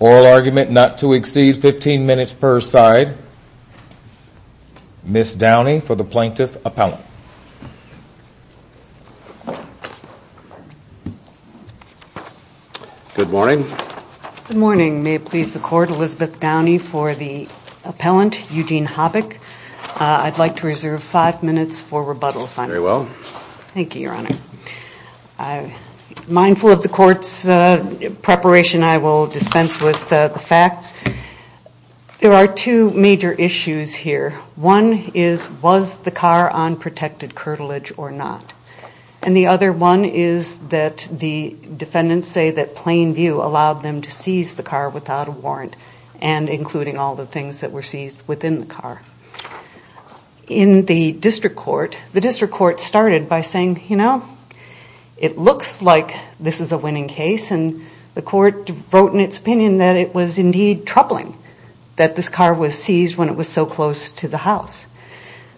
Oral argument not to exceed 15 minutes per side. Ms. Downey for the Plaintiff Appellant. I'd like to reserve five minutes for rebuttal if I may. Very well. Thank you, Your Honor. Mindful of the court's preparation, I will dispense with the facts. There are two major issues here. One is, was the car on protection? And the other one is that the defendants say that plain view allowed them to seize the car without a warrant and including all the things that were seized within the car. In the district court, the district court started by saying, you know, it looks like this is a winning case and the court wrote in its opinion that it was indeed troubling that this car was seized when it was so close to the house.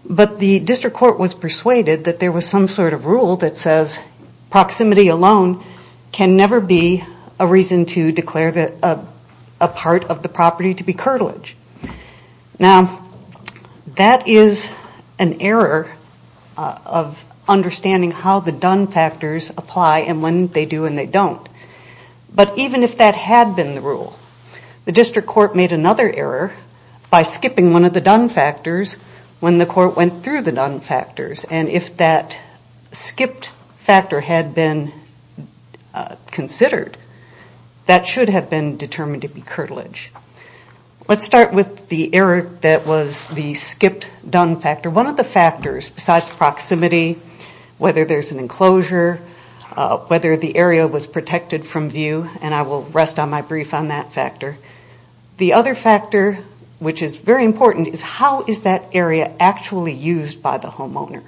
But the district court was persuaded that there was some sort of rule that says proximity alone can never be a reason to declare a part of the property to be curtilage. Now, that is an error of understanding how the done factors apply and when they do and they don't. But even if that had been the rule, the district court made another error by skipping one of the done factors when the court went through the done factors. And if that skipped factor had been considered, that should have been determined to be curtilage. Let's start with the error that was the skipped done factor. One of the factors besides proximity, whether there is an enclosure, whether the area was protected from view, and I will rest on my brief on that factor. The other factor, which is very important, is how is that area actually used by the homeowner?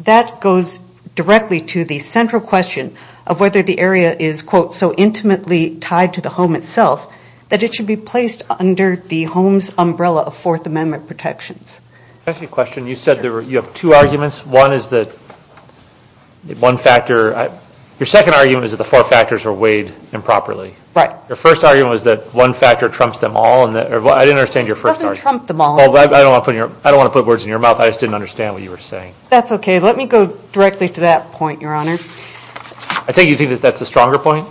That goes directly to the central question of whether the area is, quote, so intimately tied to the home itself that it should be placed under the home's umbrella of Fourth Amendment protections. Can I ask you a question? You said you have two arguments. One is that one factor, your second argument is that the four factors are weighed improperly. Right. Your first argument was that one factor trumps them all. I didn't understand your first argument. It doesn't trump them all. I don't want to put words in your mouth. I just didn't understand what you were saying. That's okay. Let me go directly to that point, Your Honor. I think you think that's the stronger point?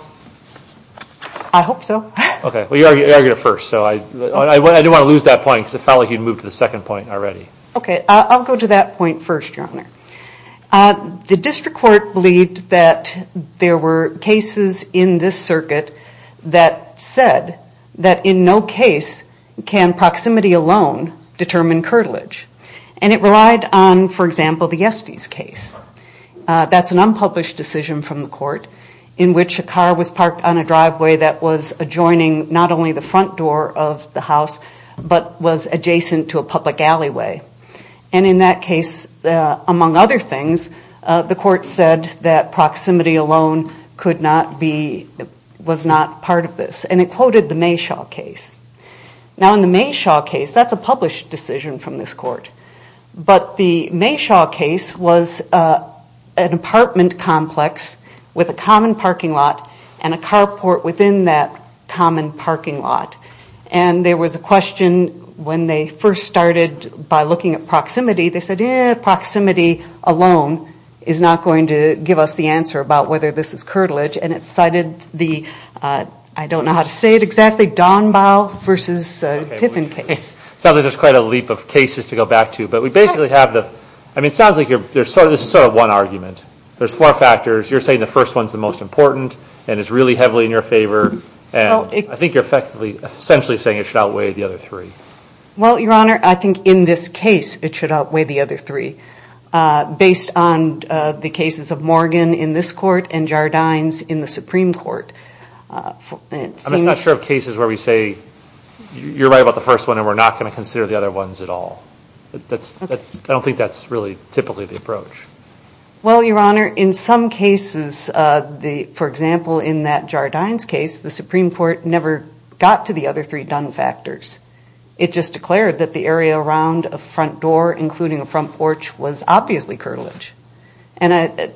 I hope so. Okay. Well, you argued it first, so I didn't want to lose that point because it felt like you'd moved to the second point already. Okay. I'll go to that point first, Your Honor. The district court believed that there were cases in this circuit that said that in no case can proximity alone determine curtilage. And it relied on, for example, the Estes case. That's an unpublished decision from the court in which a car was parked on a driveway that was adjoining not only the front door of the house, but was adjacent to a public alleyway. And in that case, among other things, the court said that proximity alone could not be, was not part of this. And it quoted the Mayshaw case. Now, in the Mayshaw case, that's a published decision from this court. But the Mayshaw case was an apartment complex with a common parking lot and a carport within that common parking lot. And there was a question when they first started by looking at proximity, they said, eh, proximity alone is not going to give us the answer about whether this is curtilage. And it cited the, I don't know how to say it exactly, Donbaugh versus Tiffin case. Sounds like there's quite a leap of cases to go back to. But we basically have the, I mean, it sounds like there's sort of one argument. There's four factors. You're saying the first one's the most important and is really heavily in your favor. And I think you're effectively, essentially saying it should outweigh the other three. Well, Your Honor, I think in this case it should outweigh the other three. Based on the cases of Morgan in this court and Jardines in the Supreme Court. I'm just not sure of cases where we say you're right about the first one and we're not going to consider the other ones at all. I don't think that's really typically the approach. Well, Your Honor, in some cases, for example, in that Jardines case, the Supreme Court never got to the other three done factors. It just declared that the area around a front door, including a front porch, was obviously curtilage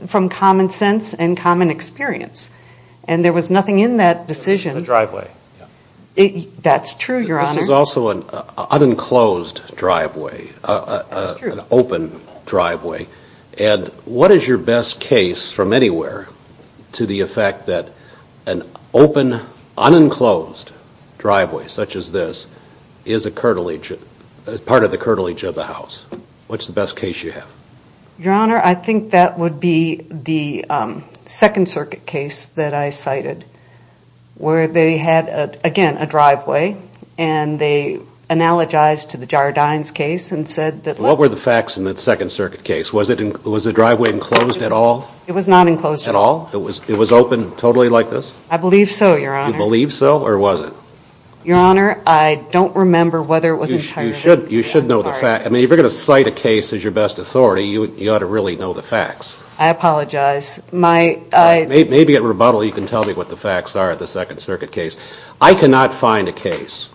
from common sense and common experience. And there was nothing in that decision. A driveway. That's true, Your Honor. This is also an unenclosed driveway, an open driveway. And what is your best case from anywhere to the effect that an open, unenclosed driveway such as this is part of the curtilage of the house? What's the best case you have? Your Honor, I think that would be the Second Circuit case that I cited where they had, again, a driveway, and they analogized to the Jardines case and said that What were the facts in that Second Circuit case? Was the driveway enclosed at all? It was not enclosed at all. It was open totally like this? I believe so, Your Honor. You believe so, or was it? Your Honor, I don't remember whether it was entirely You should know the facts. I mean, if you're going to cite a case as your best authority, you ought to really know the facts. I apologize. Maybe at rebuttal you can tell me what the facts are of the Second Circuit case. I cannot find a case,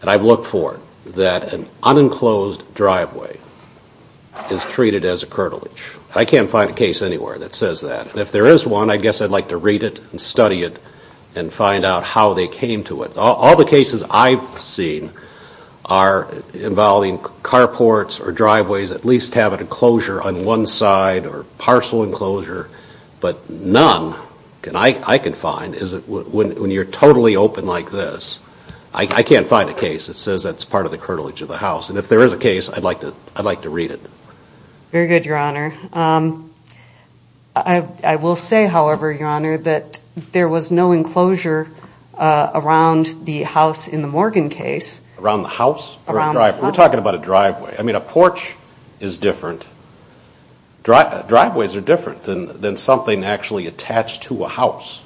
and I've looked for it, that an unenclosed driveway is treated as a curtilage. I can't find a case anywhere that says that. And if there is one, I guess I'd like to read it and study it and find out how they came to it. All the cases I've seen are involving carports or driveways that at least have an enclosure on one side or parcel enclosure, but none, I can find, is when you're totally open like this. I can't find a case that says that's part of the curtilage of the house. And if there is a case, I'd like to read it. Very good, Your Honor. I will say, however, Your Honor, that there was no enclosure around the house in the Morgan case. Around the house? Around the house. We're talking about a driveway. I mean, a porch is different. Driveways are different than something actually attached to a house.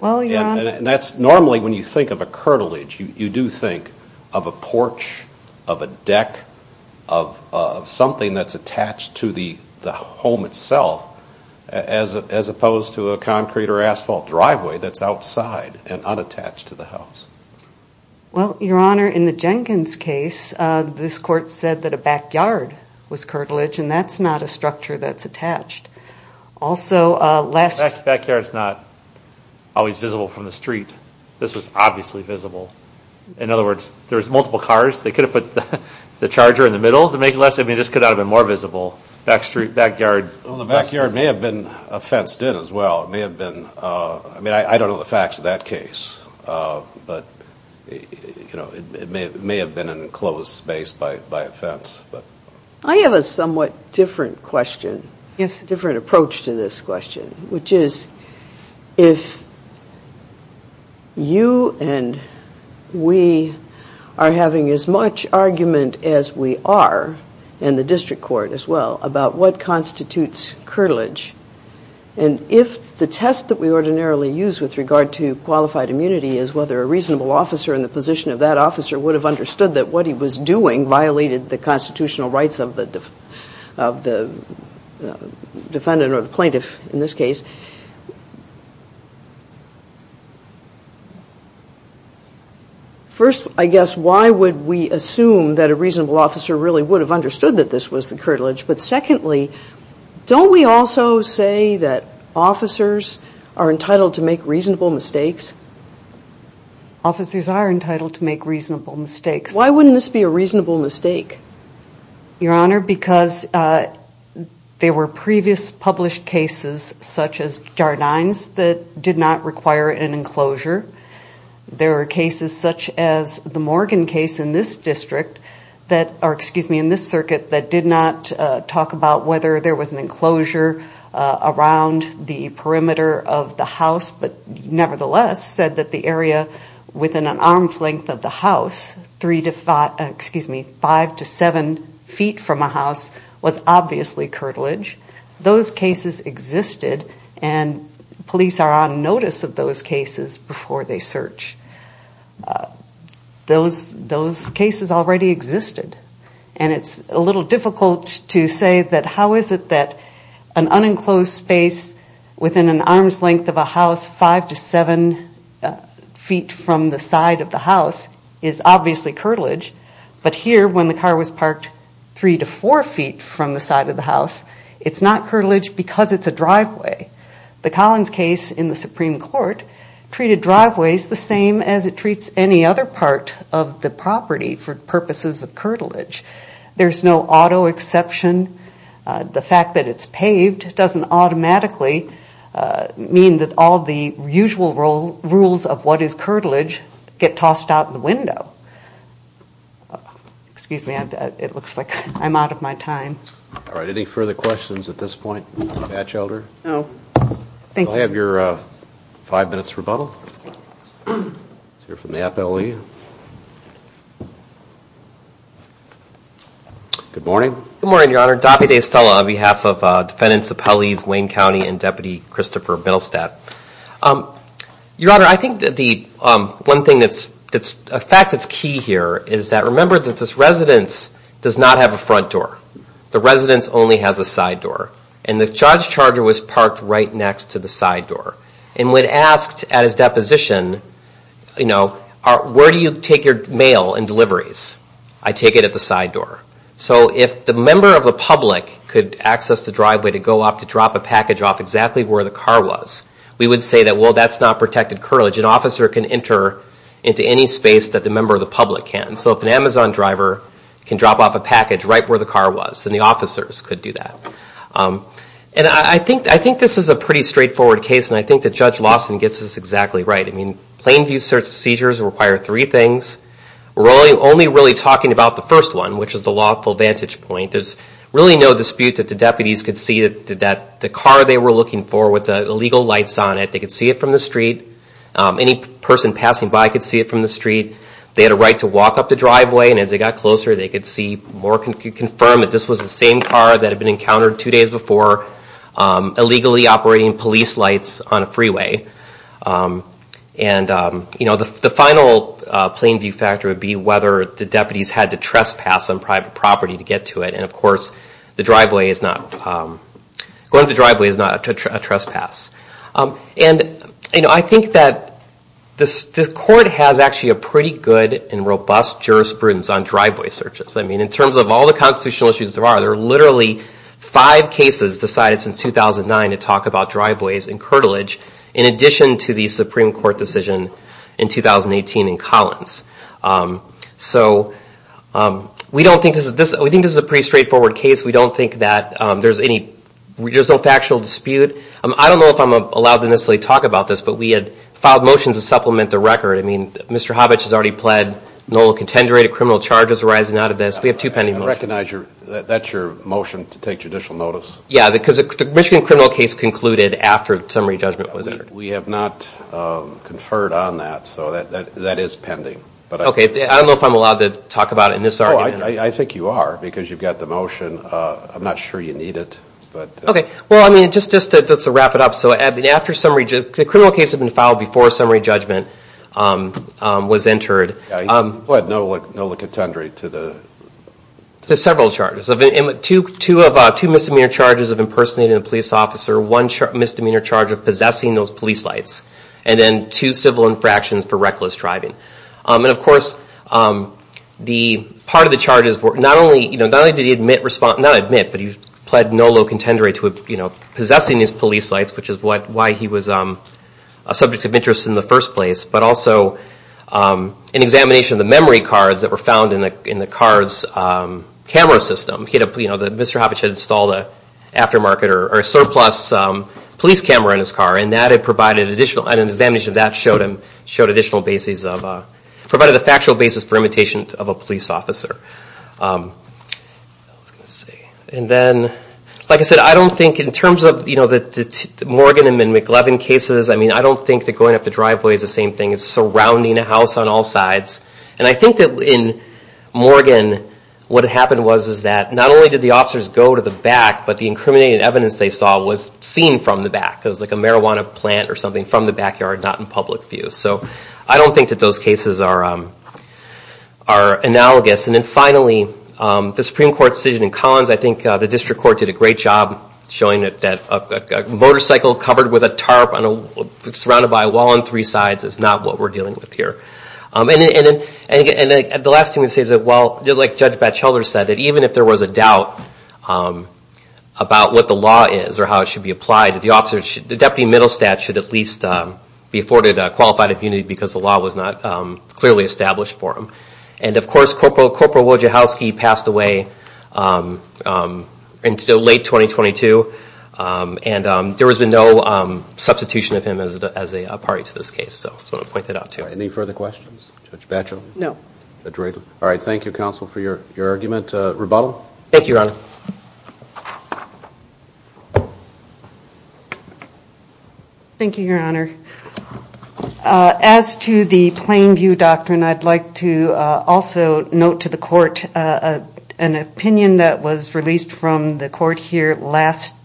Well, Your Honor. And that's normally when you think of a curtilage, you do think of a porch, of a deck, of something that's attached to the home itself as opposed to a concrete or asphalt driveway that's outside and unattached to the house. Well, Your Honor, in the Jenkins case, this court said that a backyard was curtilage, Backyard's not always visible from the street. This was obviously visible. In other words, there's multiple cars. They could have put the charger in the middle to make it less. I mean, this could not have been more visible. Backyard. Well, the backyard may have been fenced in as well. It may have been. I mean, I don't know the facts of that case, but it may have been an enclosed space by a fence. I have a somewhat different question. Yes. Different approach to this question, which is if you and we are having as much argument as we are, and the district court as well, about what constitutes curtilage, and if the test that we ordinarily use with regard to qualified immunity is whether a reasonable officer in the position of that officer would have understood that what he was doing violated the constitutional rights of the defendant or the plaintiff in this case, first, I guess, why would we assume that a reasonable officer really would have understood that this was the curtilage? But secondly, don't we also say that officers are entitled to make reasonable mistakes? Officers are entitled to make reasonable mistakes. Why wouldn't this be a reasonable mistake? Your Honor, because there were previous published cases such as Jardine's that did not require an enclosure. There were cases such as the Morgan case in this district that, or excuse me, in this circuit, that did not talk about whether there was an enclosure around the perimeter of the house, but nevertheless said that the area within an arm's length of the house, five to seven feet from a house, was obviously curtilage. Those cases existed, and police are on notice of those cases before they search. Those cases already existed, and it's a little difficult to say that how is it that an unenclosed space within an arm's length of a house five to seven feet from the side of the house is obviously curtilage, but here when the car was parked three to four feet from the side of the house, it's not curtilage because it's a driveway. The Collins case in the Supreme Court treated driveways the same as it treats any other part of the property for purposes of curtilage. There's no auto exception. The fact that it's paved doesn't automatically mean that all the usual rules of what is curtilage get tossed out the window. Excuse me. It looks like I'm out of my time. All right. Any further questions at this point, Batchelder? No. Thank you. I'll have your five minutes rebuttal. Let's hear from the FLE. Good morning. Good morning, Your Honor. Daffy DeStella on behalf of Defendants Appellees Wayne County and Deputy Christopher Middlestad. Your Honor, I think that the one thing that's a fact that's key here is that remember that this residence does not have a front door. The residence only has a side door, and the charge charger was parked right next to the side door, and when asked at his deposition, you know, where do you take your mail and deliveries? I take it at the side door. So if the member of the public could access the driveway to go off to drop a package off exactly where the car was, we would say that, well, that's not protected curtilage. An officer can enter into any space that the member of the public can. So if an Amazon driver can drop off a package right where the car was, then the officers could do that. And I think this is a pretty straightforward case, and I think that Judge Lawson gets this exactly right. I mean, plain view seizures require three things. We're only really talking about the first one, which is the lawful vantage point. There's really no dispute that the deputies could see that the car they were looking for with the illegal lights on it, they could see it from the street. Any person passing by could see it from the street. They had a right to walk up the driveway, and as they got closer, they could confirm that this was the same car that had been encountered two days before illegally operating police lights on a freeway. And the final plain view factor would be whether the deputies had to trespass on private property to get to it. And of course, going up the driveway is not a trespass. And I think that this Court has actually a pretty good and robust jurisprudence on driveway searches. I mean, in terms of all the constitutional issues there are, there are literally five cases decided since 2009 to talk about driveways and curtilage. In addition to the Supreme Court decision in 2018 in Collins. So we don't think this is a pretty straightforward case. We don't think that there's any factual dispute. I don't know if I'm allowed to necessarily talk about this, but we had filed motions to supplement the record. I mean, Mr. Hobbitch has already pled null and contender. A criminal charge is arising out of this. We have two pending motions. I recognize that's your motion to take judicial notice. Yeah, because the Michigan criminal case concluded after summary judgment was entered. We have not conferred on that. So that is pending. Okay, I don't know if I'm allowed to talk about it in this argument. I think you are, because you've got the motion. I'm not sure you need it. Okay, well, I mean, just to wrap it up. So the criminal case had been filed before summary judgment was entered. What? Null and contender to the? To several charges. Two misdemeanor charges of impersonating a police officer, one misdemeanor charge of possessing those police lights, and then two civil infractions for reckless driving. And, of course, part of the charges were not only did he admit, but he pled null and contender to possessing his police lights, which is why he was a subject of interest in the first place, but also an examination of the memory cards that were found in the car's camera system. You know, Mr. Hovich had installed an aftermarket or a surplus police camera in his car, and an examination of that showed additional bases of, provided a factual basis for imitation of a police officer. And then, like I said, I don't think in terms of, you know, the Morgan and McLevin cases, I mean, I don't think that going up the driveway is the same thing. It's surrounding a house on all sides. And I think that in Morgan, what happened was that not only did the officers go to the back, but the incriminating evidence they saw was seen from the back. It was like a marijuana plant or something from the backyard, not in public view. So I don't think that those cases are analogous. And then finally, the Supreme Court decision in Collins, I think the district court did a great job showing that a motorcycle covered with a tarp, surrounded by a wall on three sides, is not what we're dealing with here. And the last thing I'm going to say is that, like Judge Batchelder said, that even if there was a doubt about what the law is or how it should be applied, the deputy middle statute should at least be afforded qualified immunity because the law was not clearly established for him. And of course, Corporal Wojciechowski passed away in late 2022, and there has been no substitution of him as a party to this case. So I just want to point that out, too. Any further questions? Judge Batchelder? No. All right. Thank you, counsel, for your argument. Rebuttal? Thank you, Your Honor. Thank you, Your Honor. As to the plain view doctrine, I'd like to also note to the court an opinion that was released from the court here last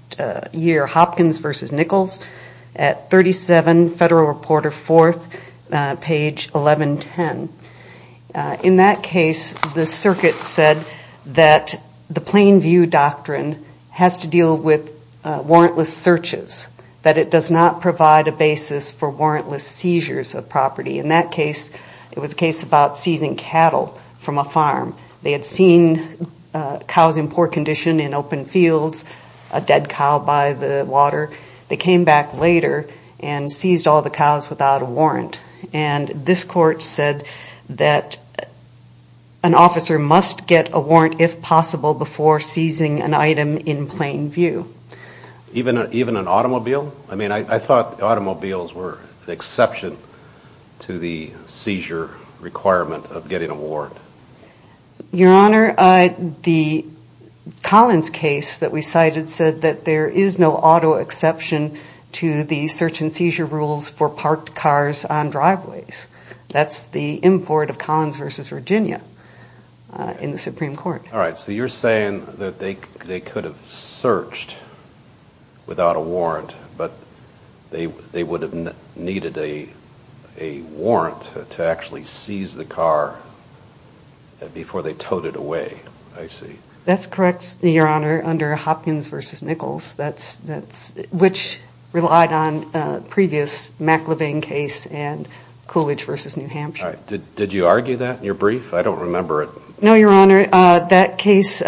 year, Hopkins v. Nichols, at 37 Federal Reporter 4th, page 1110. In that case, the circuit said that the plain view doctrine has to deal with warrantless searches, that it does not provide a basis for warrantless seizures of property. In that case, it was a case about seizing cattle from a farm. They had seen cows in poor condition in open fields, a dead cow by the water. They came back later and seized all the cows without a warrant. And this court said that an officer must get a warrant, if possible, before seizing an item in plain view. Even an automobile? I mean, I thought automobiles were an exception to the seizure requirement of getting a warrant. Your Honor, the Collins case that we cited said that there is no auto exception to the search and seizure rules for parked cars on driveways. That's the import of Collins v. Virginia in the Supreme Court. All right. So you're saying that they could have searched without a warrant, but they would have needed a warrant to actually seize the car before they towed it away. I see. That's correct, Your Honor, under Hopkins v. Nichols, which relied on a previous McLevain case and Coolidge v. New Hampshire. All right. Did you argue that in your brief? I don't remember it. No, Your Honor. That case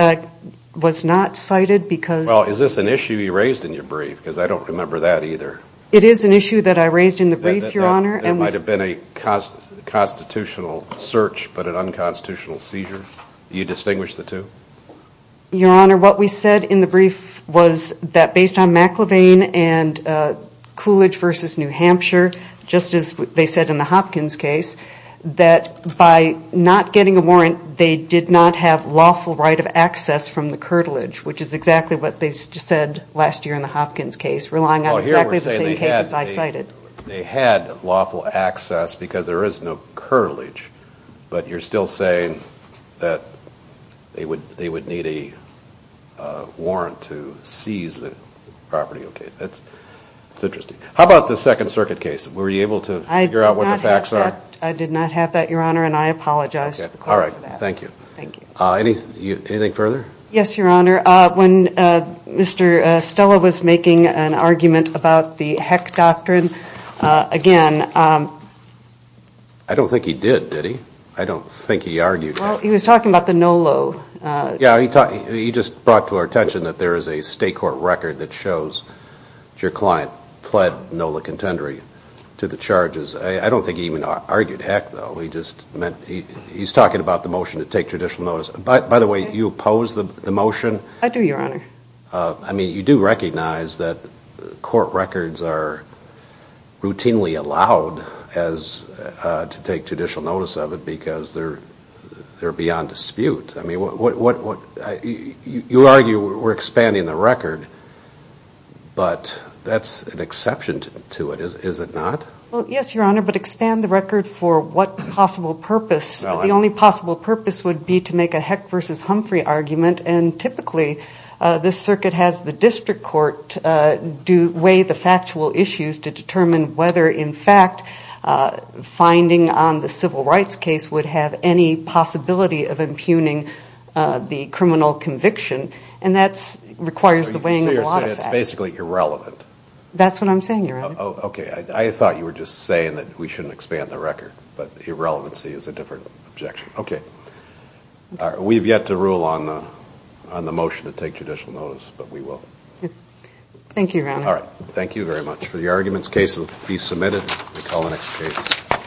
was not cited because Well, is this an issue you raised in your brief? Because I don't remember that either. It is an issue that I raised in the brief, Your Honor. There might have been a constitutional search but an unconstitutional seizure. Do you distinguish the two? Your Honor, what we said in the brief was that based on McLevain and Coolidge v. New Hampshire, just as they said in the Hopkins case, that by not getting a warrant they did not have lawful right of access from the curtilage, which is exactly what they said last year in the Hopkins case, relying on exactly the same cases I cited. They had lawful access because there is no curtilage, but you're still saying that they would need a warrant to seize the property. That's interesting. How about the Second Circuit case? Were you able to figure out what the facts are? I did not have that, Your Honor, and I apologize to the court for that. All right. Thank you. Anything further? Yes, Your Honor. When Mr. Stella was making an argument about the Heck Doctrine, again – I don't think he did, did he? I don't think he argued. Well, he was talking about the NOLO. Yeah, he just brought to our attention that there is a state court record that shows your client pled NOLA contendering to the charges. I don't think he even argued Heck, though. He's talking about the motion to take judicial notice. By the way, you oppose the motion? I do, Your Honor. I mean, you do recognize that court records are routinely allowed to take judicial notice of it because they're beyond dispute. You argue we're expanding the record, but that's an exception to it, is it not? Well, yes, Your Honor, but expand the record for what possible purpose? The only possible purpose would be to make a Heck v. Humphrey argument, and typically this circuit has the district court weigh the factual issues to determine whether, in fact, finding on the civil rights case would have any possibility of impugning the criminal conviction, and that requires the weighing of a lot of facts. So you're saying it's basically irrelevant? That's what I'm saying, Your Honor. Okay. I thought you were just saying that we shouldn't expand the record, but irrelevancy is a different objection. Okay. We have yet to rule on the motion to take judicial notice, but we will. Thank you, Your Honor. All right. Thank you very much. The argument's case will be submitted. We'll call the next case.